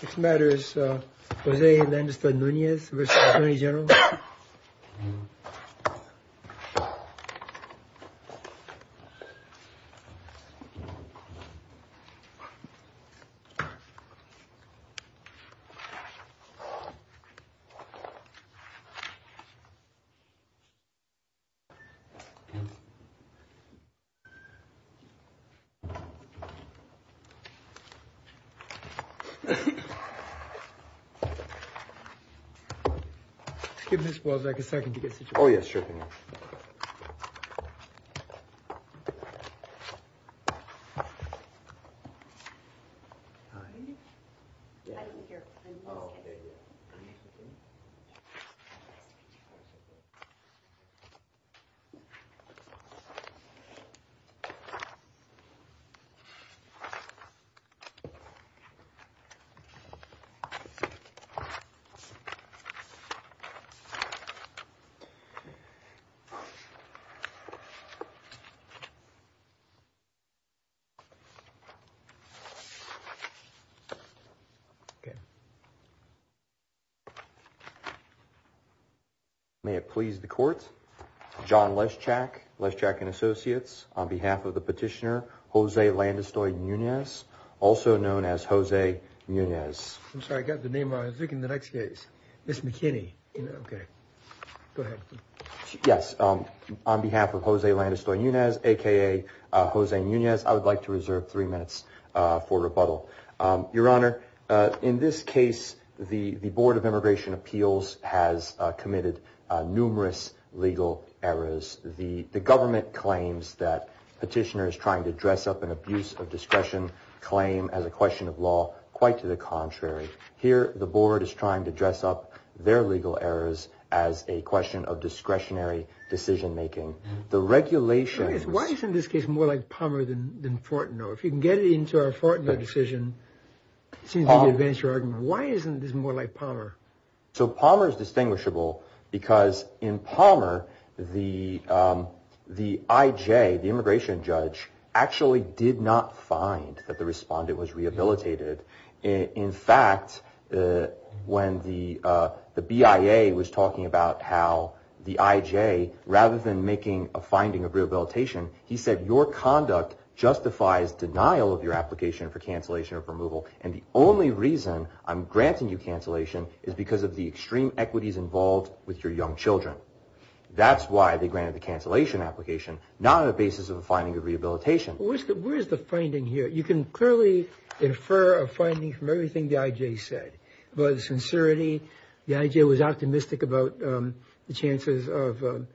This matter is Jose Hernandez V. Nunez v. Attorney General. Give Ms. Wozniak a second to get situated. Oh yes, sure thing. May it please the court, John Leschak, Leschak & Associates, on behalf of the petitioner Jose Landestoy Nunez, also known as Jose Nunez. I'm sorry, I got the name wrong. I was looking at the next case. Ms. McKinney. Yes, on behalf of Jose Landestoy Nunez, a.k.a. Jose Nunez, I would like to reserve three minutes for rebuttal. Your Honor, in this case, the Board of Immigration Appeals has committed numerous legal errors. The government claims that petitioners trying to dress up an abuse of discretion claim as a question of law. Quite to the contrary. Here, the Board is trying to dress up their legal errors as a question of discretionary decision making. The regulations... Why isn't this case more like Palmer than Fortno? If you can get it into our Fortno decision, it seems to advance your argument. Why isn't this more like Palmer? So Palmer is distinguishable because in Palmer, the I.J., the immigration judge, actually did not find that the respondent was rehabilitated. In fact, when the BIA was talking about how the I.J., rather than making a finding of rehabilitation, he said your conduct justifies denial of your application for cancellation or removal. And the only reason I'm granting you cancellation is because of the extreme equities involved with your young children. That's why they granted the cancellation application, not on the basis of a finding of rehabilitation. Where's the finding here? You can clearly infer a finding from everything the I.J. said. The I.J. was optimistic about the chances of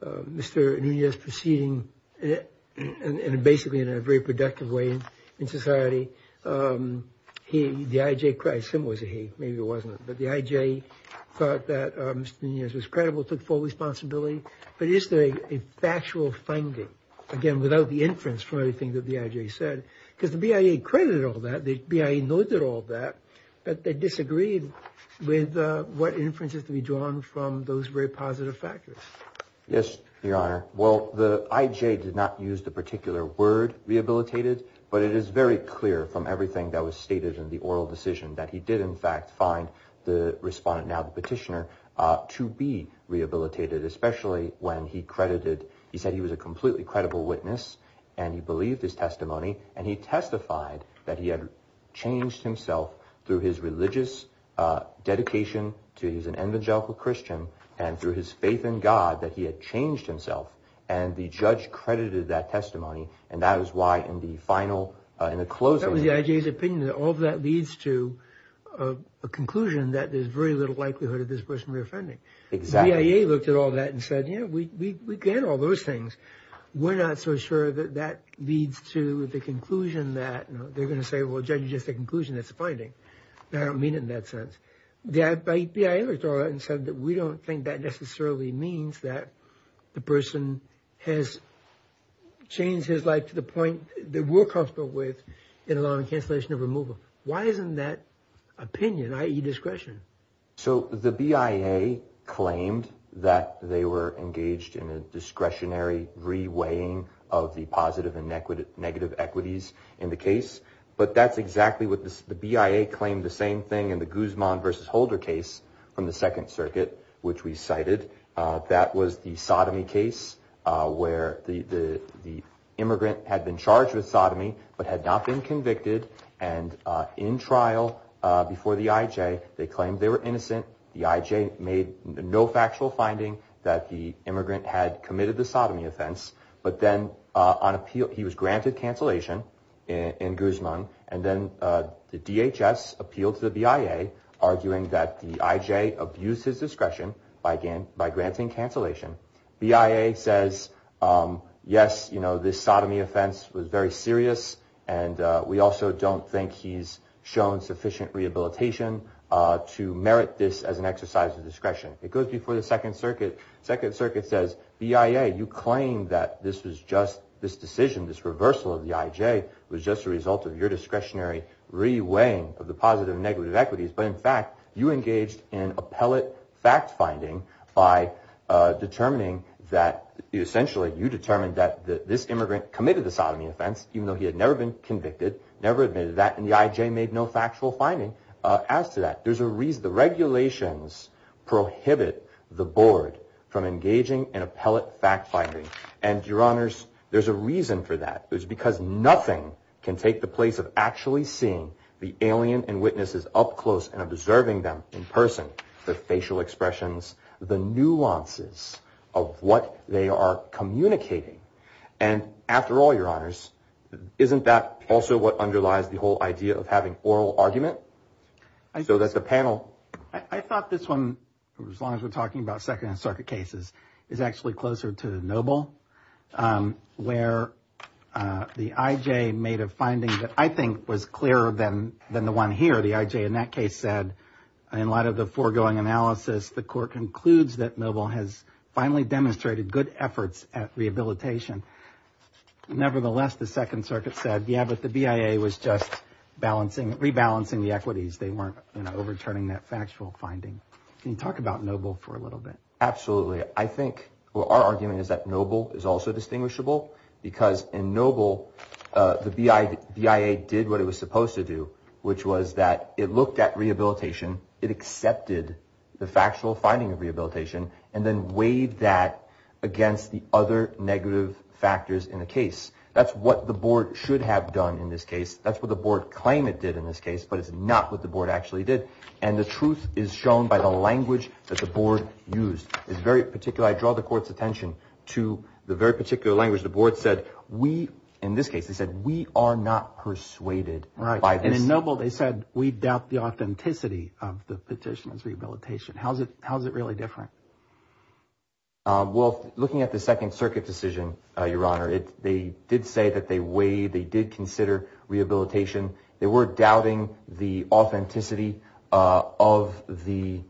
Mr. Nunez proceeding and basically in a very productive way in society. The I.J. thought that Mr. Nunez was credible, took full responsibility. But is there a factual finding, again, without the inference from everything that the I.J. said? Because the BIA credited all that, the BIA noted all that, but they disagreed with what inferences to be drawn from those very positive factors. Yes, Your Honor. Well, the I.J. did not use the particular word rehabilitated, but it is very clear from everything that was stated in the oral decision that he did, in fact, find the respondent, now the petitioner, to be rehabilitated, especially when he credited, he said he was a completely credible witness, and he believed his testimony, and he testified that he had changed himself through his religious dedication, that he was an evangelical Christian, and through his faith in God, that he had changed himself. And the judge credited that testimony, and that is why in the final, in the closing... That was the I.J.'s opinion, and all of that leads to a conclusion that there's very little likelihood of this person reoffending. Exactly. The BIA looked at all that and said, yeah, we get all those things. We're not so sure that that leads to the conclusion that they're going to say, well, Judge, it's just a conclusion, it's a finding. I don't mean it in that sense. The BIA looked at all that and said that we don't think that necessarily means that the person has changed his life to the point that we're comfortable with in a law on cancellation of removal. Why isn't that opinion, i.e. discretion? So the BIA claimed that they were engaged in a discretionary re-weighing of the positive and negative equities in the case, but that's exactly what the BIA claimed the same thing in the Guzman v. Holder case from the Second Circuit, which we cited. That was the sodomy case where the immigrant had been charged with sodomy but had not been convicted, and in trial before the IJ, they claimed they were innocent. The IJ made no factual finding that the immigrant had committed the sodomy offense, but then he was granted cancellation in Guzman, and then the DHS appealed to the BIA, arguing that the IJ abused his discretion by granting cancellation. BIA says, yes, this sodomy offense was very serious, and we also don't think he's shown sufficient rehabilitation to merit this as an exercise of discretion. It goes before the Second Circuit. Second Circuit says, BIA, you claim that this decision, this reversal of the IJ, was just a result of your discretionary re-weighing of the positive and negative equities, but in fact, you engaged in appellate fact-finding by determining that essentially you determined that this immigrant committed the sodomy offense, even though he had never been convicted, never admitted that, and the IJ made no factual finding as to that. There's a reason. The regulations prohibit the board from engaging in appellate fact-finding, and, Your Honors, there's a reason for that. It's because nothing can take the place of actually seeing the alien and witnesses up close and observing them in person, the facial expressions, the nuances of what they are communicating, and after all, Your Honors, isn't that also what underlies the whole idea of having oral argument? So that's the panel. I thought this one, as long as we're talking about Second Circuit cases, is actually closer to Noble, where the IJ made a finding that I think was clearer than the one here. The IJ in that case said, in light of the foregoing analysis, the court concludes that Noble has finally demonstrated good efforts at rehabilitation. Nevertheless, the Second Circuit said, yeah, but the BIA was just rebalancing the equities. They weren't overturning that factual finding. Can you talk about Noble for a little bit? Absolutely. I think our argument is that Noble is also distinguishable because in Noble, the BIA did what it was supposed to do, which was that it looked at rehabilitation, it accepted the factual finding of rehabilitation, and then weighed that against the other negative factors in the case. That's what the board should have done in this case. That's what the board claimed it did in this case, but it's not what the board actually did. And the truth is shown by the language that the board used. It's very particular. I draw the court's attention to the very particular language the board said. In this case, they said, we are not persuaded by this. In Noble, they said, we doubt the authenticity of the petition's rehabilitation. How is it really different? Well, looking at the Second Circuit decision, Your Honor, they did say that they weighed, they were doubting the authenticity of the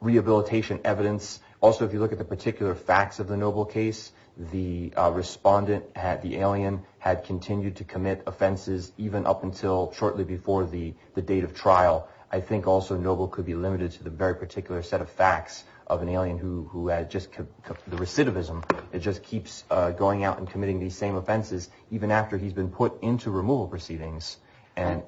rehabilitation evidence. Also, if you look at the particular facts of the Noble case, the respondent, the alien, had continued to commit offenses even up until shortly before the date of trial. I think also Noble could be limited to the very particular set of facts of an alien who had just the recidivism. It just keeps going out and committing these same offenses even after he's been put into removal proceedings. I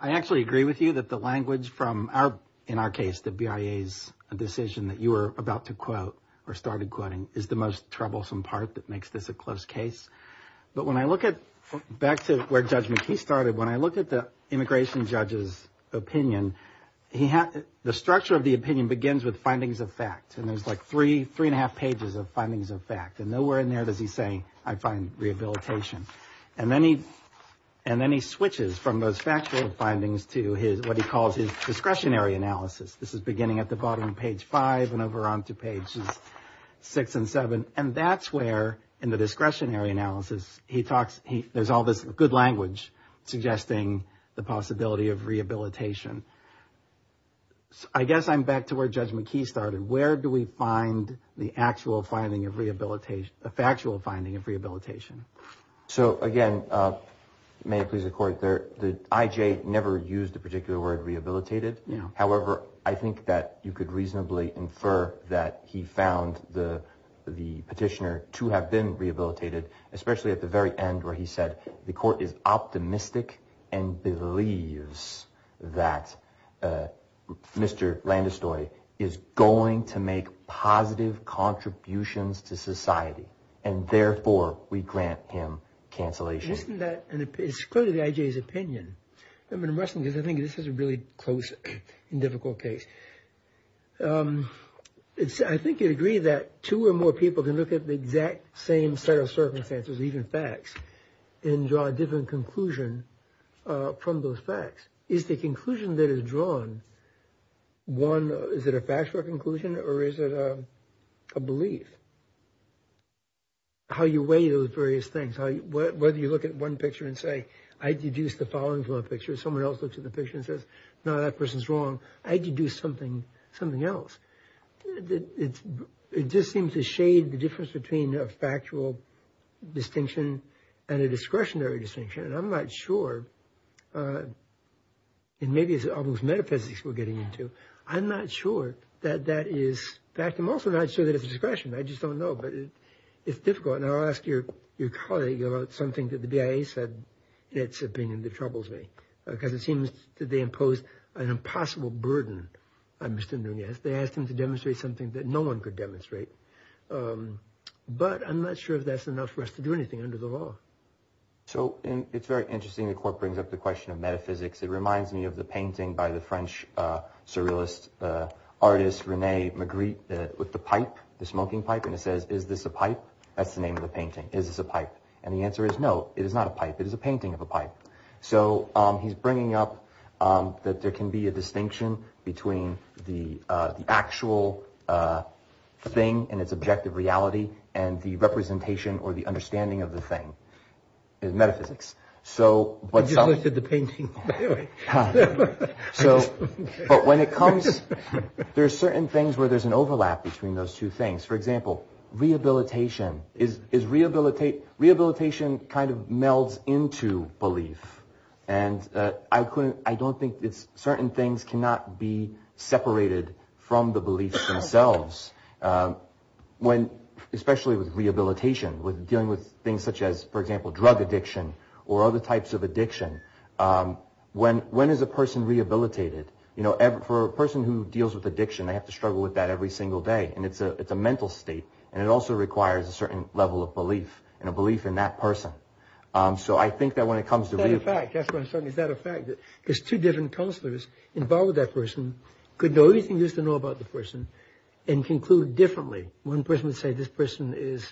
actually agree with you that the language from our, in our case, the BIA's decision that you were about to quote or started quoting is the most troublesome part that makes this a close case. But when I look at, back to where Judge McKee started, when I look at the immigration judge's opinion, the structure of the opinion begins with findings of fact. And there's like three, three and a half pages of findings of fact. And nowhere in there does he say, I find rehabilitation. And then he, and then he switches from those factual findings to his, what he calls his discretionary analysis. This is beginning at the bottom of page five and over onto pages six and seven. And that's where, in the discretionary analysis, he talks, there's all this good language suggesting the possibility of rehabilitation. I guess I'm back to where Judge McKee started. Where do we find the actual finding of rehabilitation, the factual finding of rehabilitation? So again, may it please the court, the IJ never used the particular word rehabilitated. However, I think that you could reasonably infer that he found the petitioner to have been rehabilitated, especially at the very end where he said the court is optimistic and believes that Mr. Landestoy is going to make positive contributions to society. And therefore, we grant him cancellation. Isn't that, it's clearly the IJ's opinion. I mean, I'm wrestling because I think this is a really close and difficult case. I think you'd agree that two or more people can look at the exact same set of circumstances, even facts, and draw a different conclusion from those facts. Is the conclusion that is drawn, one, is it a factual conclusion or is it a belief? How you weigh those various things, whether you look at one picture and say, I deduce the following from a picture. Someone else looks at the picture and says, no, that person's wrong. I deduce something else. It just seems to shade the difference between a factual distinction and a discretionary distinction. And I'm not sure, and maybe it's almost metaphysics we're getting into. I'm not sure that that is fact. I'm also not sure that it's discretion. I just don't know. But it's difficult. And I'll ask your colleague about something that the BIA said in its opinion that troubles me, because it seems that they impose an impossible burden on Mr. Nunez. They asked him to demonstrate something that no one could demonstrate. But I'm not sure if that's enough for us to do anything under the law. So it's very interesting. The court brings up the question of metaphysics. It reminds me of the painting by the French surrealist artist René Magritte with the pipe, the smoking pipe. And it says, is this a pipe? That's the name of the painting. Is this a pipe? And the answer is no. It is not a pipe. It is a painting of a pipe. So he's bringing up that there can be a distinction between the actual thing and its objective reality and the representation or the understanding of the thing. Metaphysics. So the painting. So but when it comes, there are certain things where there's an overlap between those two things. For example, rehabilitation is rehabilitate. Rehabilitation kind of melds into belief. And I couldn't I don't think it's certain things cannot be separated from the belief themselves. When especially with rehabilitation, with dealing with things such as, for example, drug addiction or other types of addiction. When when is a person rehabilitated? You know, for a person who deals with addiction, they have to struggle with that every single day. And it's a it's a mental state. And it also requires a certain level of belief and a belief in that person. So I think that when it comes to the fact that there's two different counselors involved, that person could know anything used to know about the person and conclude differently. One person would say this person is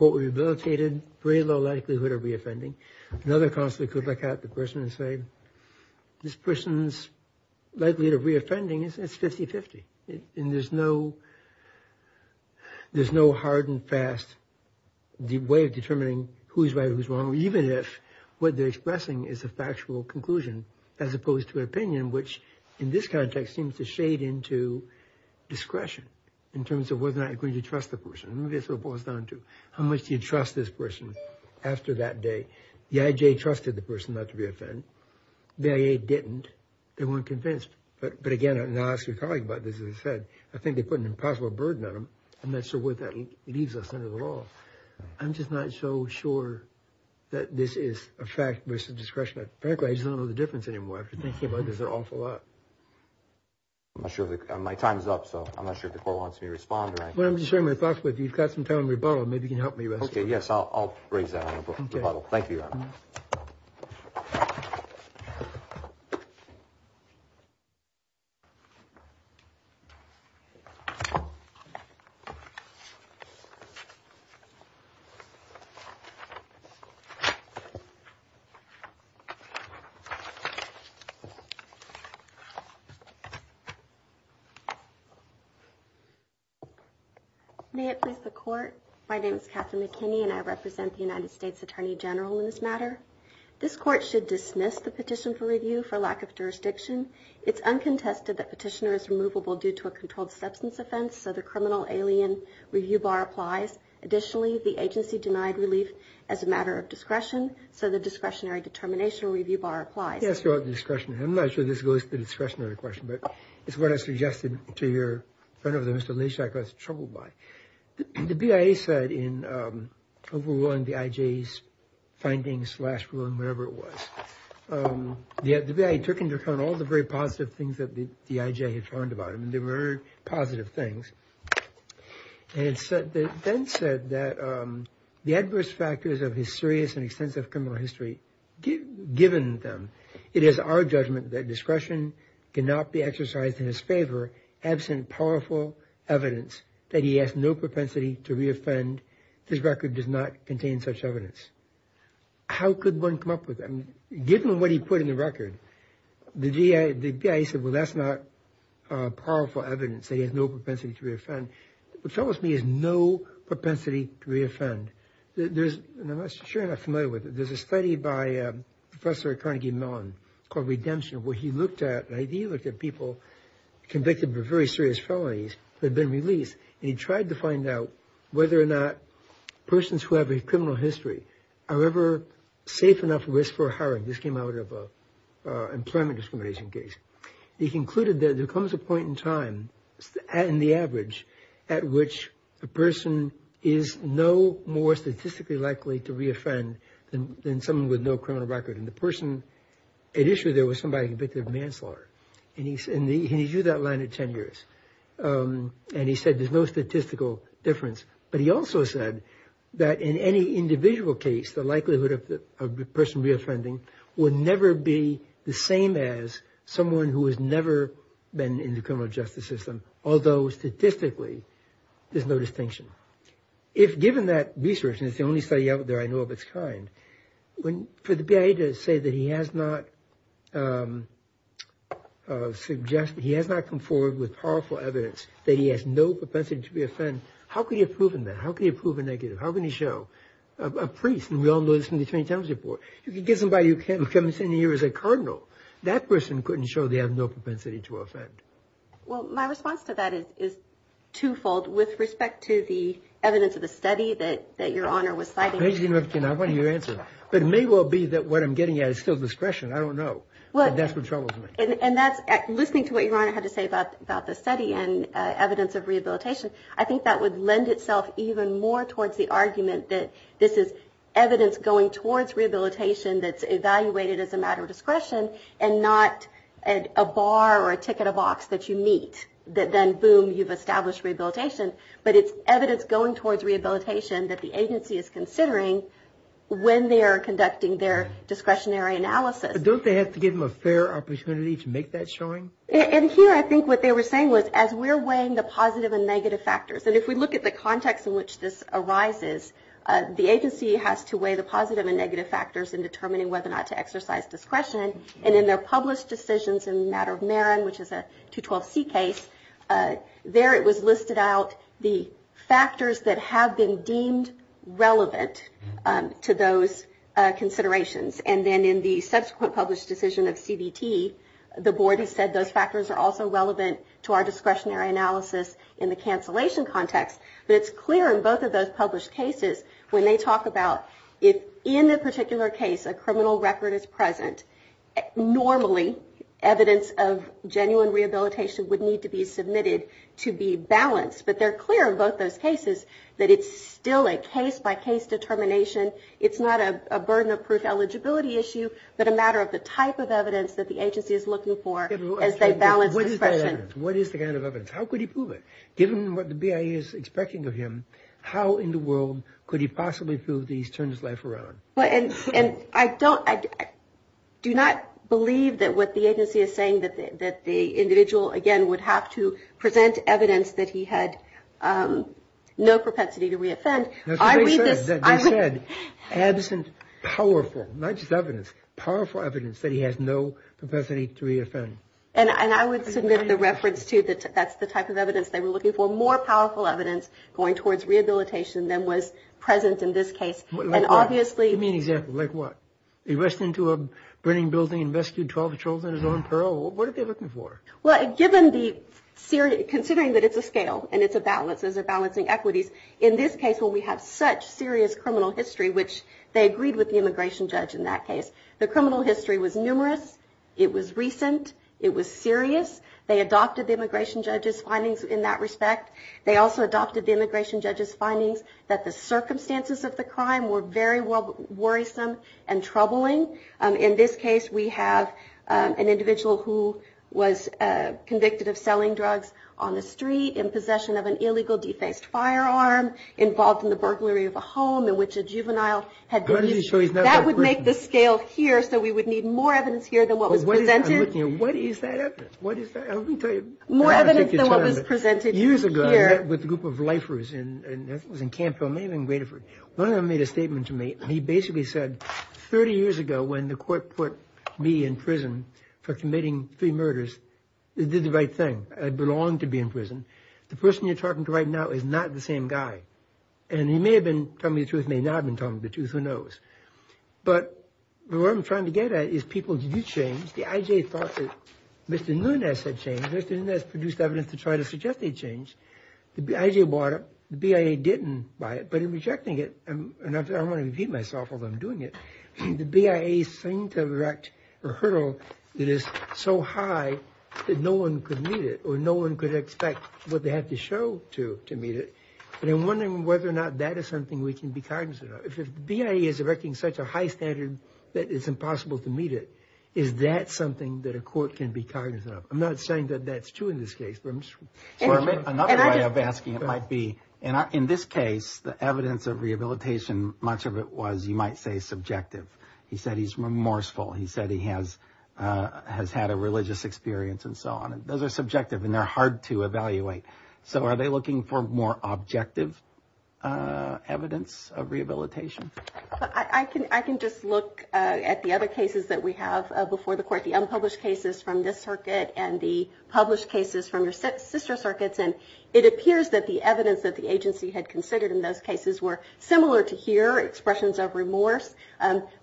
rehabilitated. Very low likelihood of reoffending. Another counselor could look at the person and say, this person's likelihood of reoffending is 50-50. And there's no there's no hard and fast way of determining who's right, who's wrong. Even if what they're expressing is a factual conclusion as opposed to an opinion, which in this context seems to shade into discretion in terms of whether or not you're going to trust the person. How much do you trust this person? After that day, the I.J. trusted the person not to be offended. The I.A. didn't. They weren't convinced. But again, I'm not actually talking about this. As I said, I think they put an impossible burden on them. And that's the way that leaves us under the law. I'm just not so sure that this is a fact versus discretion. Frankly, I don't know the difference anymore. After thinking about this an awful lot. I'm not sure my time is up, so I'm not sure if the court wants me to respond. Well, I'm just sharing my thoughts with you. You've got some time rebuttal. Maybe you can help me. Yes, I'll raise that. Thank you. May it please the court. My name is Catherine McKinney and I represent the United States Attorney General in this matter. This court should dismiss the petition for review for lack of jurisdiction. It's uncontested that petitioner is removable due to a controlled substance offense. So the criminal alien review bar applies. Additionally, the agency denied relief as a matter of discretion. So the discretionary determination review bar applies. Yes, your discretion. I'm not sure this goes to the discretionary question, but it's what I suggested to your friend over there. Mr. Lashak was troubled by. The BIA said in overruling the IJ's findings, slash ruling, whatever it was. The BIA took into account all the very positive things that the IJ had found about him. They were positive things. And it then said that the adverse factors of his serious and extensive criminal history, given them, it is our judgment that discretion cannot be exercised in his favor absent powerful evidence that he has no propensity to re-offend. This record does not contain such evidence. How could one come up with that? Given what he put in the record, the BIA said, well, that's not powerful evidence that he has no propensity to re-offend. What troubles me is no propensity to re-offend. There's, I'm not sure I'm familiar with it. There's a study by Professor Carnegie Mellon called Redemption where he looked at, he looked at people convicted of very serious felonies that had been released, and he tried to find out whether or not persons who have a criminal history are ever safe enough at risk for a harassment. This came out of an employment discrimination case. He concluded that there comes a point in time, in the average, at which a person is no more statistically likely to re-offend than someone with no criminal record. And the person at issue there was somebody convicted of manslaughter. And he drew that line at 10 years. And he said there's no statistical difference. But he also said that in any individual case, the likelihood of a person re-offending would never be the same as someone who has never been in the criminal justice system, although statistically there's no distinction. If given that research, and it's the only study out there I know of its kind, for the BIA to say that he has not suggested, he has not come forward with powerful evidence that he has no propensity to re-offend, how could he have proven that? How could he have proven negative? How can he show? A priest, and we all know this from the 2010 report. If you get somebody who comes in here as a cardinal, that person couldn't show they have no propensity to offend. Well, my response to that is twofold with respect to the evidence of the study that Your Honor was citing. I want your answer. But it may well be that what I'm getting at is still discretion. I don't know. But that's what troubles me. And that's, listening to what Your Honor had to say about the study and evidence of rehabilitation, I think that would lend itself even more towards the argument that this is evidence going towards rehabilitation that's evaluated as a matter of discretion and not a bar or a ticket, a box that you meet. Then, boom, you've established rehabilitation. But it's evidence going towards rehabilitation that the agency is considering when they are conducting their discretionary analysis. But don't they have to give them a fair opportunity to make that showing? And here, I think what they were saying was, as we're weighing the positive and negative factors, and if we look at the context in which this arises, the agency has to weigh the positive and negative factors in determining whether or not to exercise discretion. And in their published decisions in the matter of Marin, which is a 212C case, there it was listed out the factors that have been deemed relevant to those considerations. And then in the subsequent published decision of CBT, the board has said those factors are also relevant to our discretionary analysis in the cancellation context. But it's clear in both of those published cases, when they talk about, if in a particular case a criminal record is present, normally evidence of genuine rehabilitation would need to be submitted to be balanced. But they're clear in both those cases that it's still a case-by-case determination. It's not a burden of proof eligibility issue, but a matter of the type of evidence that the agency is looking for as they balance discretion. What is the kind of evidence? How could he prove it? Given what the BIA is expecting of him, how in the world could he possibly prove that he's turned his life around? I do not believe that what the agency is saying, that the individual, again, would have to present evidence that he had no propensity to reoffend. They said, absent powerful, not just evidence, powerful evidence that he has no propensity to reoffend. And I would submit the reference to that. That's the type of evidence they were looking for, more powerful evidence going towards rehabilitation than was present in this case. Give me an example. Like what? He rushed into a burning building and rescued 12 children in his own peril. What are they looking for? Well, considering that it's a scale and it's a balancing equities, in this case where we have such serious criminal history, which they agreed with the immigration judge in that case, the criminal history was numerous. It was recent. It was serious. They adopted the immigration judge's findings in that respect. They also adopted the immigration judge's findings that the circumstances of the crime were very worrisome and troubling. In this case, we have an individual who was convicted of selling drugs on the street in possession of an illegal defaced firearm. Involved in the burglary of a home in which a juvenile had been used. That would make the scale here, so we would need more evidence here than what was presented. What is that evidence? More evidence than what was presented here. Years ago, I met with a group of lifers. One of them made a statement to me. He basically said, 30 years ago when the court put me in prison for committing three murders, I did the right thing. I belonged to be in prison. The person you're talking to right now is not the same guy. And he may have been telling me the truth, may not have been telling me the truth, who knows. But what I'm trying to get at is people do change. The IJ thought that Mr. Nunez had changed. Mr. Nunez produced evidence to try to suggest they changed. The IJ bought it. The BIA didn't buy it. But in rejecting it, and I want to repeat myself while I'm doing it, the BIA seemed to have erected a hurdle that is so high that no one could meet it or no one could expect what they have to show to meet it. And I'm wondering whether or not that is something we can be cognizant of. If the BIA is erecting such a high standard that it's impossible to meet it, is that something that a court can be cognizant of? I'm not saying that that's true in this case. Another way of asking it might be, in this case, the evidence of rehabilitation, much of it was, you might say, subjective. He said he's remorseful. He said he has had a religious experience and so on. Those are subjective, and they're hard to evaluate. So are they looking for more objective evidence of rehabilitation? I can just look at the other cases that we have before the court, the unpublished cases from this circuit and the published cases from your sister circuits, and it appears that the evidence that the agency had considered in those cases were similar to here, expressions of remorse,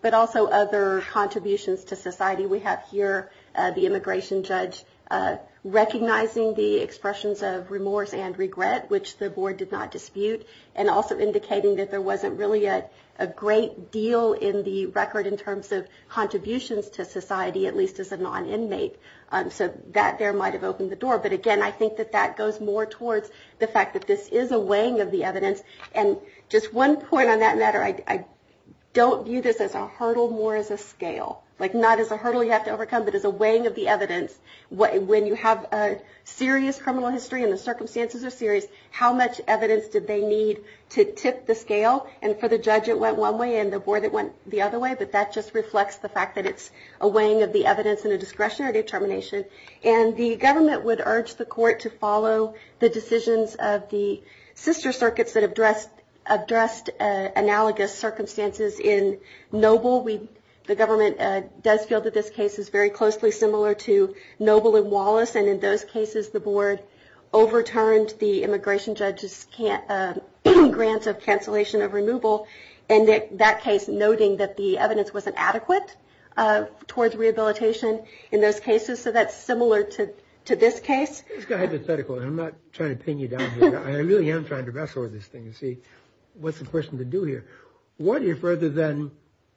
but also other contributions to society. We have here the immigration judge recognizing the expressions of remorse and regret, which the board did not dispute, and also indicating that there wasn't really a great deal in the record in terms of contributions to society, at least as a non-inmate. So that there might have opened the door. But again, I think that that goes more towards the fact that this is a weighing of the evidence. And just one point on that matter, I don't view this as a hurdle, more as a scale. Like not as a hurdle you have to overcome, but as a weighing of the evidence. When you have a serious criminal history and the circumstances are serious, how much evidence did they need to tip the scale? And for the judge it went one way, and the board it went the other way, but that just reflects the fact that it's a weighing of the evidence and a discretionary determination. And the government would urge the court to follow the decisions of the sister circuits that addressed analogous circumstances in Noble. The government does feel that this case is very closely similar to Noble and Wallace, and in those cases the board overturned the immigration judge's grants of cancellation of removal, and in that case noting that the evidence wasn't adequate towards rehabilitation in those cases. So that's similar to this case? It's hypothetical, and I'm not trying to pin you down here. I really am trying to wrestle with this thing and see what's the person to do here. What if rather than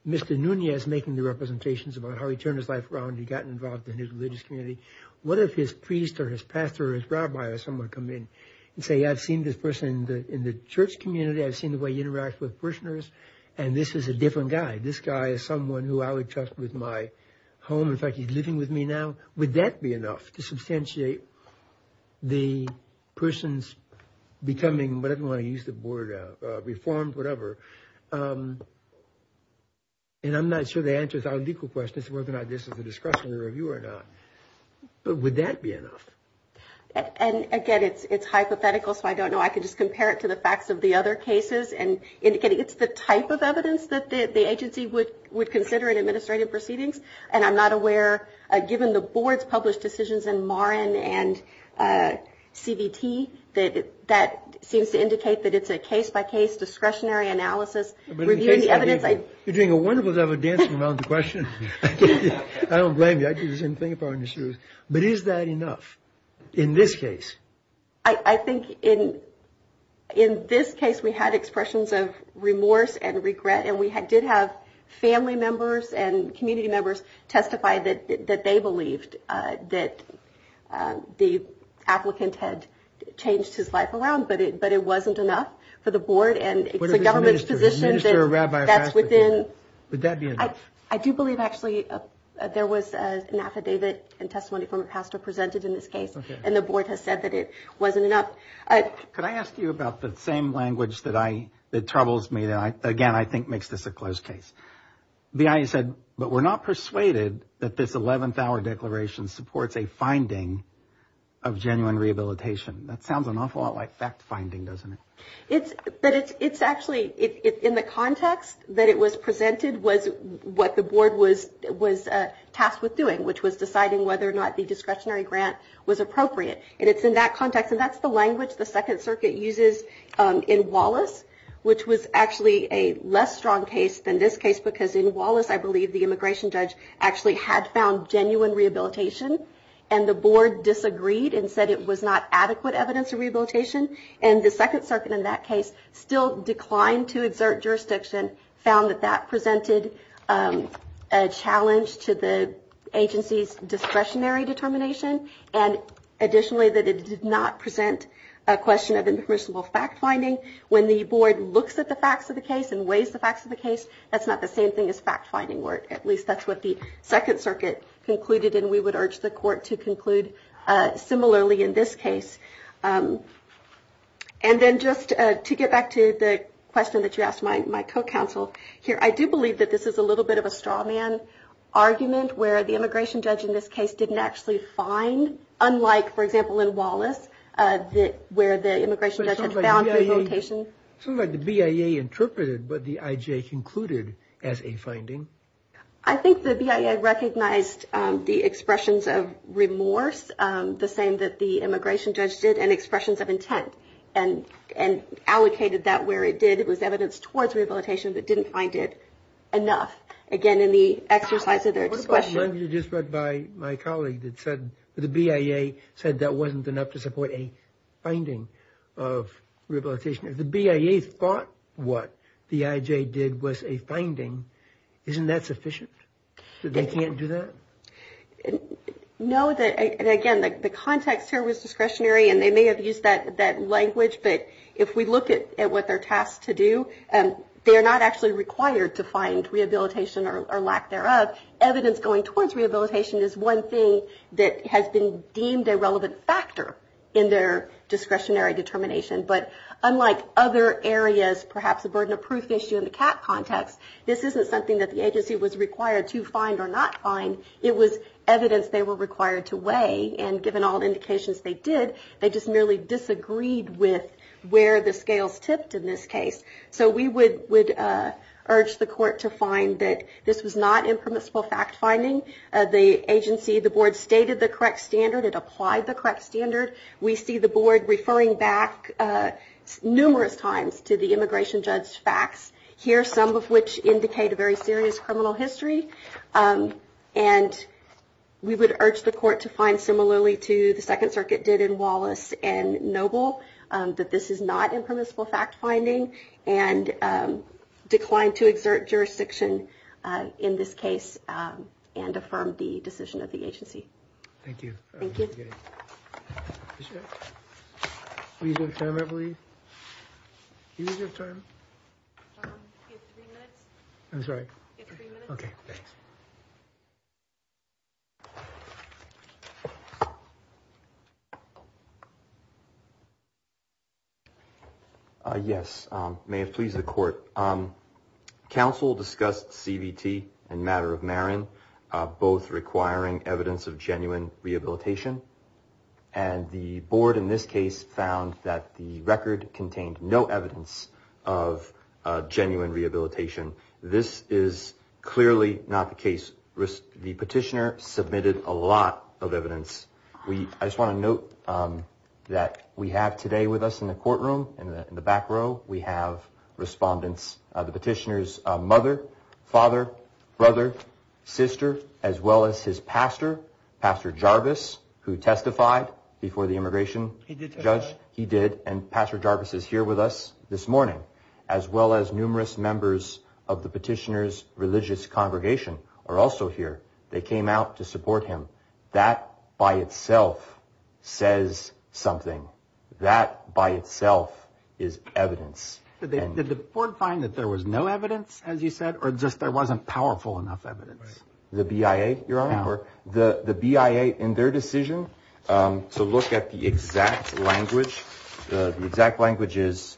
Mr. Nunez making the representations about how he turned his life around, he got involved in his religious community, what if his priest or his pastor or his rabbi or someone come in and say, I've seen this person in the church community, I've seen the way he interacts with parishioners, and this is a different guy. This guy is someone who I would trust with my home. In fact, he's living with me now. Would that be enough to substantiate the person's becoming, whatever you want to use the word, reformed, whatever? And I'm not sure the answer to our legal question is whether or not this is a discretionary review or not, but would that be enough? And, again, it's hypothetical, so I don't know. I can just compare it to the facts of the other cases, and, again, it's the type of evidence that the agency would consider in administrative proceedings, and I'm not aware, given the board's published decisions in Morin and CVT, that that seems to indicate that it's a case-by-case, discretionary analysis. In the case, you're doing a wonderful job of dancing around the question. I don't blame you. I do the same thing if I were in your shoes. But is that enough in this case? I think in this case we had expressions of remorse and regret, and we did have family members and community members testify that they believed that the applicant had changed his life around, but it wasn't enough for the board, and it's the government's position that that's within. Would that be enough? I do believe, actually, there was an affidavit and testimony from a pastor presented in this case, and the board has said that it wasn't enough. Could I ask you about the same language that troubles me that, again, I think makes this a closed case? The IA said, but we're not persuaded that this 11th hour declaration supports a finding of genuine rehabilitation. That sounds an awful lot like fact-finding, doesn't it? It's actually in the context that it was presented was what the board was tasked with doing, which was deciding whether or not the discretionary grant was appropriate, and it's in that context, and that's the language the Second Circuit uses in Wallace, which was actually a less strong case than this case, because in Wallace I believe the immigration judge actually had found genuine rehabilitation, and the board disagreed and said it was not adequate evidence of rehabilitation, and the Second Circuit in that case still declined to exert jurisdiction, found that that presented a challenge to the agency's discretionary determination, and additionally that it did not present a question of impermissible fact-finding. When the board looks at the facts of the case and weighs the facts of the case, that's not the same thing as fact-finding, or at least that's what the Second Circuit concluded, and we would urge the court to conclude similarly in this case. And then just to get back to the question that you asked my co-counsel here, I do believe that this is a little bit of a straw man argument where the immigration judge in this case didn't actually find, unlike, for example, in Wallace where the immigration judge had found rehabilitation. It sounds like the BIA interpreted what the IJ concluded as a finding. I think the BIA recognized the expressions of remorse, the same that the immigration judge did, and expressions of intent and allocated that where it did. It was evidence towards rehabilitation, but didn't find it enough. Again, in the exercise of their discretion. What about the language you just read by my colleague that said the BIA said that wasn't enough to support a finding of rehabilitation? If the BIA thought what the IJ did was a finding, isn't that sufficient? They can't do that? No, and again, the context here was discretionary, and they may have used that language, but if we look at what they're tasked to do, they are not actually required to find rehabilitation or lack thereof. Evidence going towards rehabilitation is one thing that has been deemed a relevant factor in their discretionary determination, but unlike other areas, perhaps a burden of proof issue in the CAT context, this isn't something that the agency was required to find or not find. It was evidence they were required to weigh, and given all indications they did, they just merely disagreed with where the scales tipped in this case. So we would urge the court to find that this was not impermissible fact-finding. The agency, the board, stated the correct standard. It applied the correct standard. We see the board referring back numerous times to the immigration judge's facts, here some of which indicate a very serious criminal history, and we would urge the court to find, similarly to the Second Circuit did in Wallace and Noble, that this is not impermissible fact-finding and decline to exert jurisdiction in this case and affirm the decision of the agency. Thank you. Thank you. We have time, I believe. Do we have time? We have three minutes. That's right. We have three minutes. Okay, thanks. Yes, may it please the court. Counsel discussed CBT and matter of Marin, both requiring evidence of genuine rehabilitation, and the board in this case found that the record contained no evidence of genuine rehabilitation. This is clearly not the case. The petitioner submitted a lot of evidence. I just want to note that we have today with us in the courtroom, in the back row, we have respondents, the petitioner's mother, father, brother, sister, as well as his pastor, Pastor Jarvis, who testified before the immigration judge. He did testify. He did, and Pastor Jarvis is here with us this morning, as well as numerous members of the petitioner's religious congregation are also here. They came out to support him. That by itself says something. That by itself is evidence. Did the board find that there was no evidence, as you said, or just there wasn't powerful enough evidence? The BIA, Your Honor. The BIA, in their decision, to look at the exact language, the exact language is,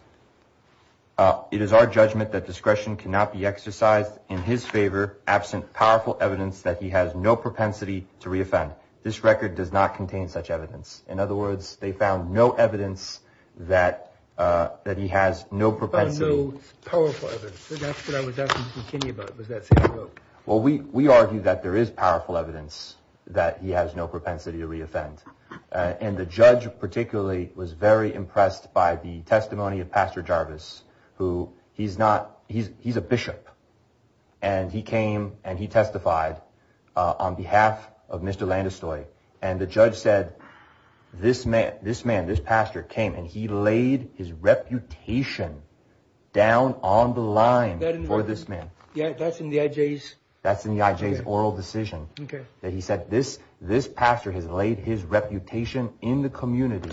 it is our judgment that discretion cannot be exercised in his favor, absent powerful evidence that he has no propensity to reoffend. This record does not contain such evidence. In other words, they found no evidence that he has no propensity. But no powerful evidence. That's what I was asking McKinney about, was that same note. Well, we argue that there is powerful evidence that he has no propensity to reoffend. And the judge particularly was very impressed by the testimony of Pastor Jarvis, who he's not, he's a bishop, and he came and he testified on behalf of Mr. Landestoy. And the judge said, this man, this pastor, came and he laid his reputation down on the line for this man. That's in the IJ's? That's in the IJ's oral decision. He said this pastor has laid his reputation in the community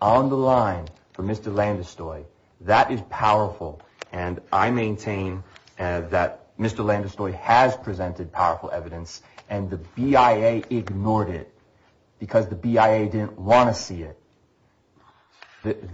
on the line for Mr. Landestoy. That is powerful. And I maintain that Mr. Landestoy has presented powerful evidence and the BIA ignored it because the BIA didn't want to see it.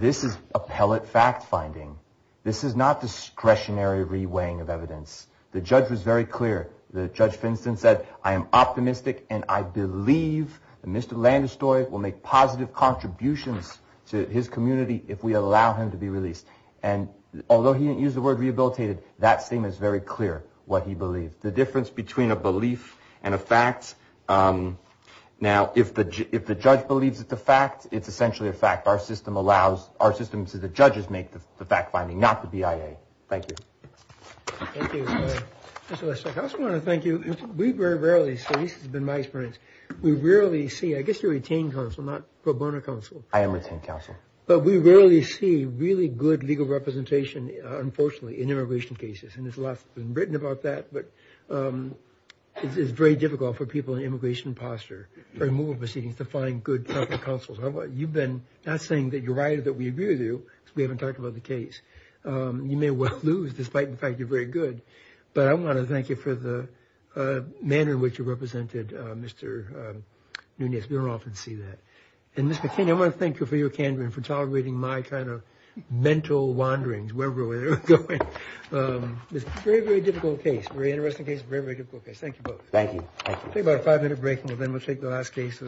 This is appellate fact finding. This is not discretionary reweighing of evidence. The judge was very clear. The judge, for instance, said, I am optimistic and I believe Mr. Landestoy will make positive contributions to his community if we allow him to be released. And although he didn't use the word rehabilitated, that statement is very clear what he believed. The difference between a belief and a fact. Now, if the judge believes it's a fact, it's essentially a fact. Our system allows, our system says the judges make the fact finding, not the BIA. Thank you. Thank you. Mr. Leszek, I just want to thank you. We very rarely see, this has been my experience, we rarely see, I guess you're retained counsel, not pro bono counsel. I am retained counsel. But we rarely see really good legal representation, unfortunately, in immigration cases. And there's a lot that's been written about that. But it's very difficult for people in immigration posture or removal proceedings to find good counsel. You've been, not saying that you're right or that we agree with you, because we haven't talked about the case. You may well lose, despite the fact you're very good. But I want to thank you for the manner in which you represented Mr. Nunez. We don't often see that. And, Mr. King, I want to thank you for your candor and for tolerating my kind of mental wanderings, wherever we're going. It's a very, very difficult case, very interesting case, very, very difficult case. Thank you both. Thank you. We'll take about a five-minute break, and then we'll take the last case.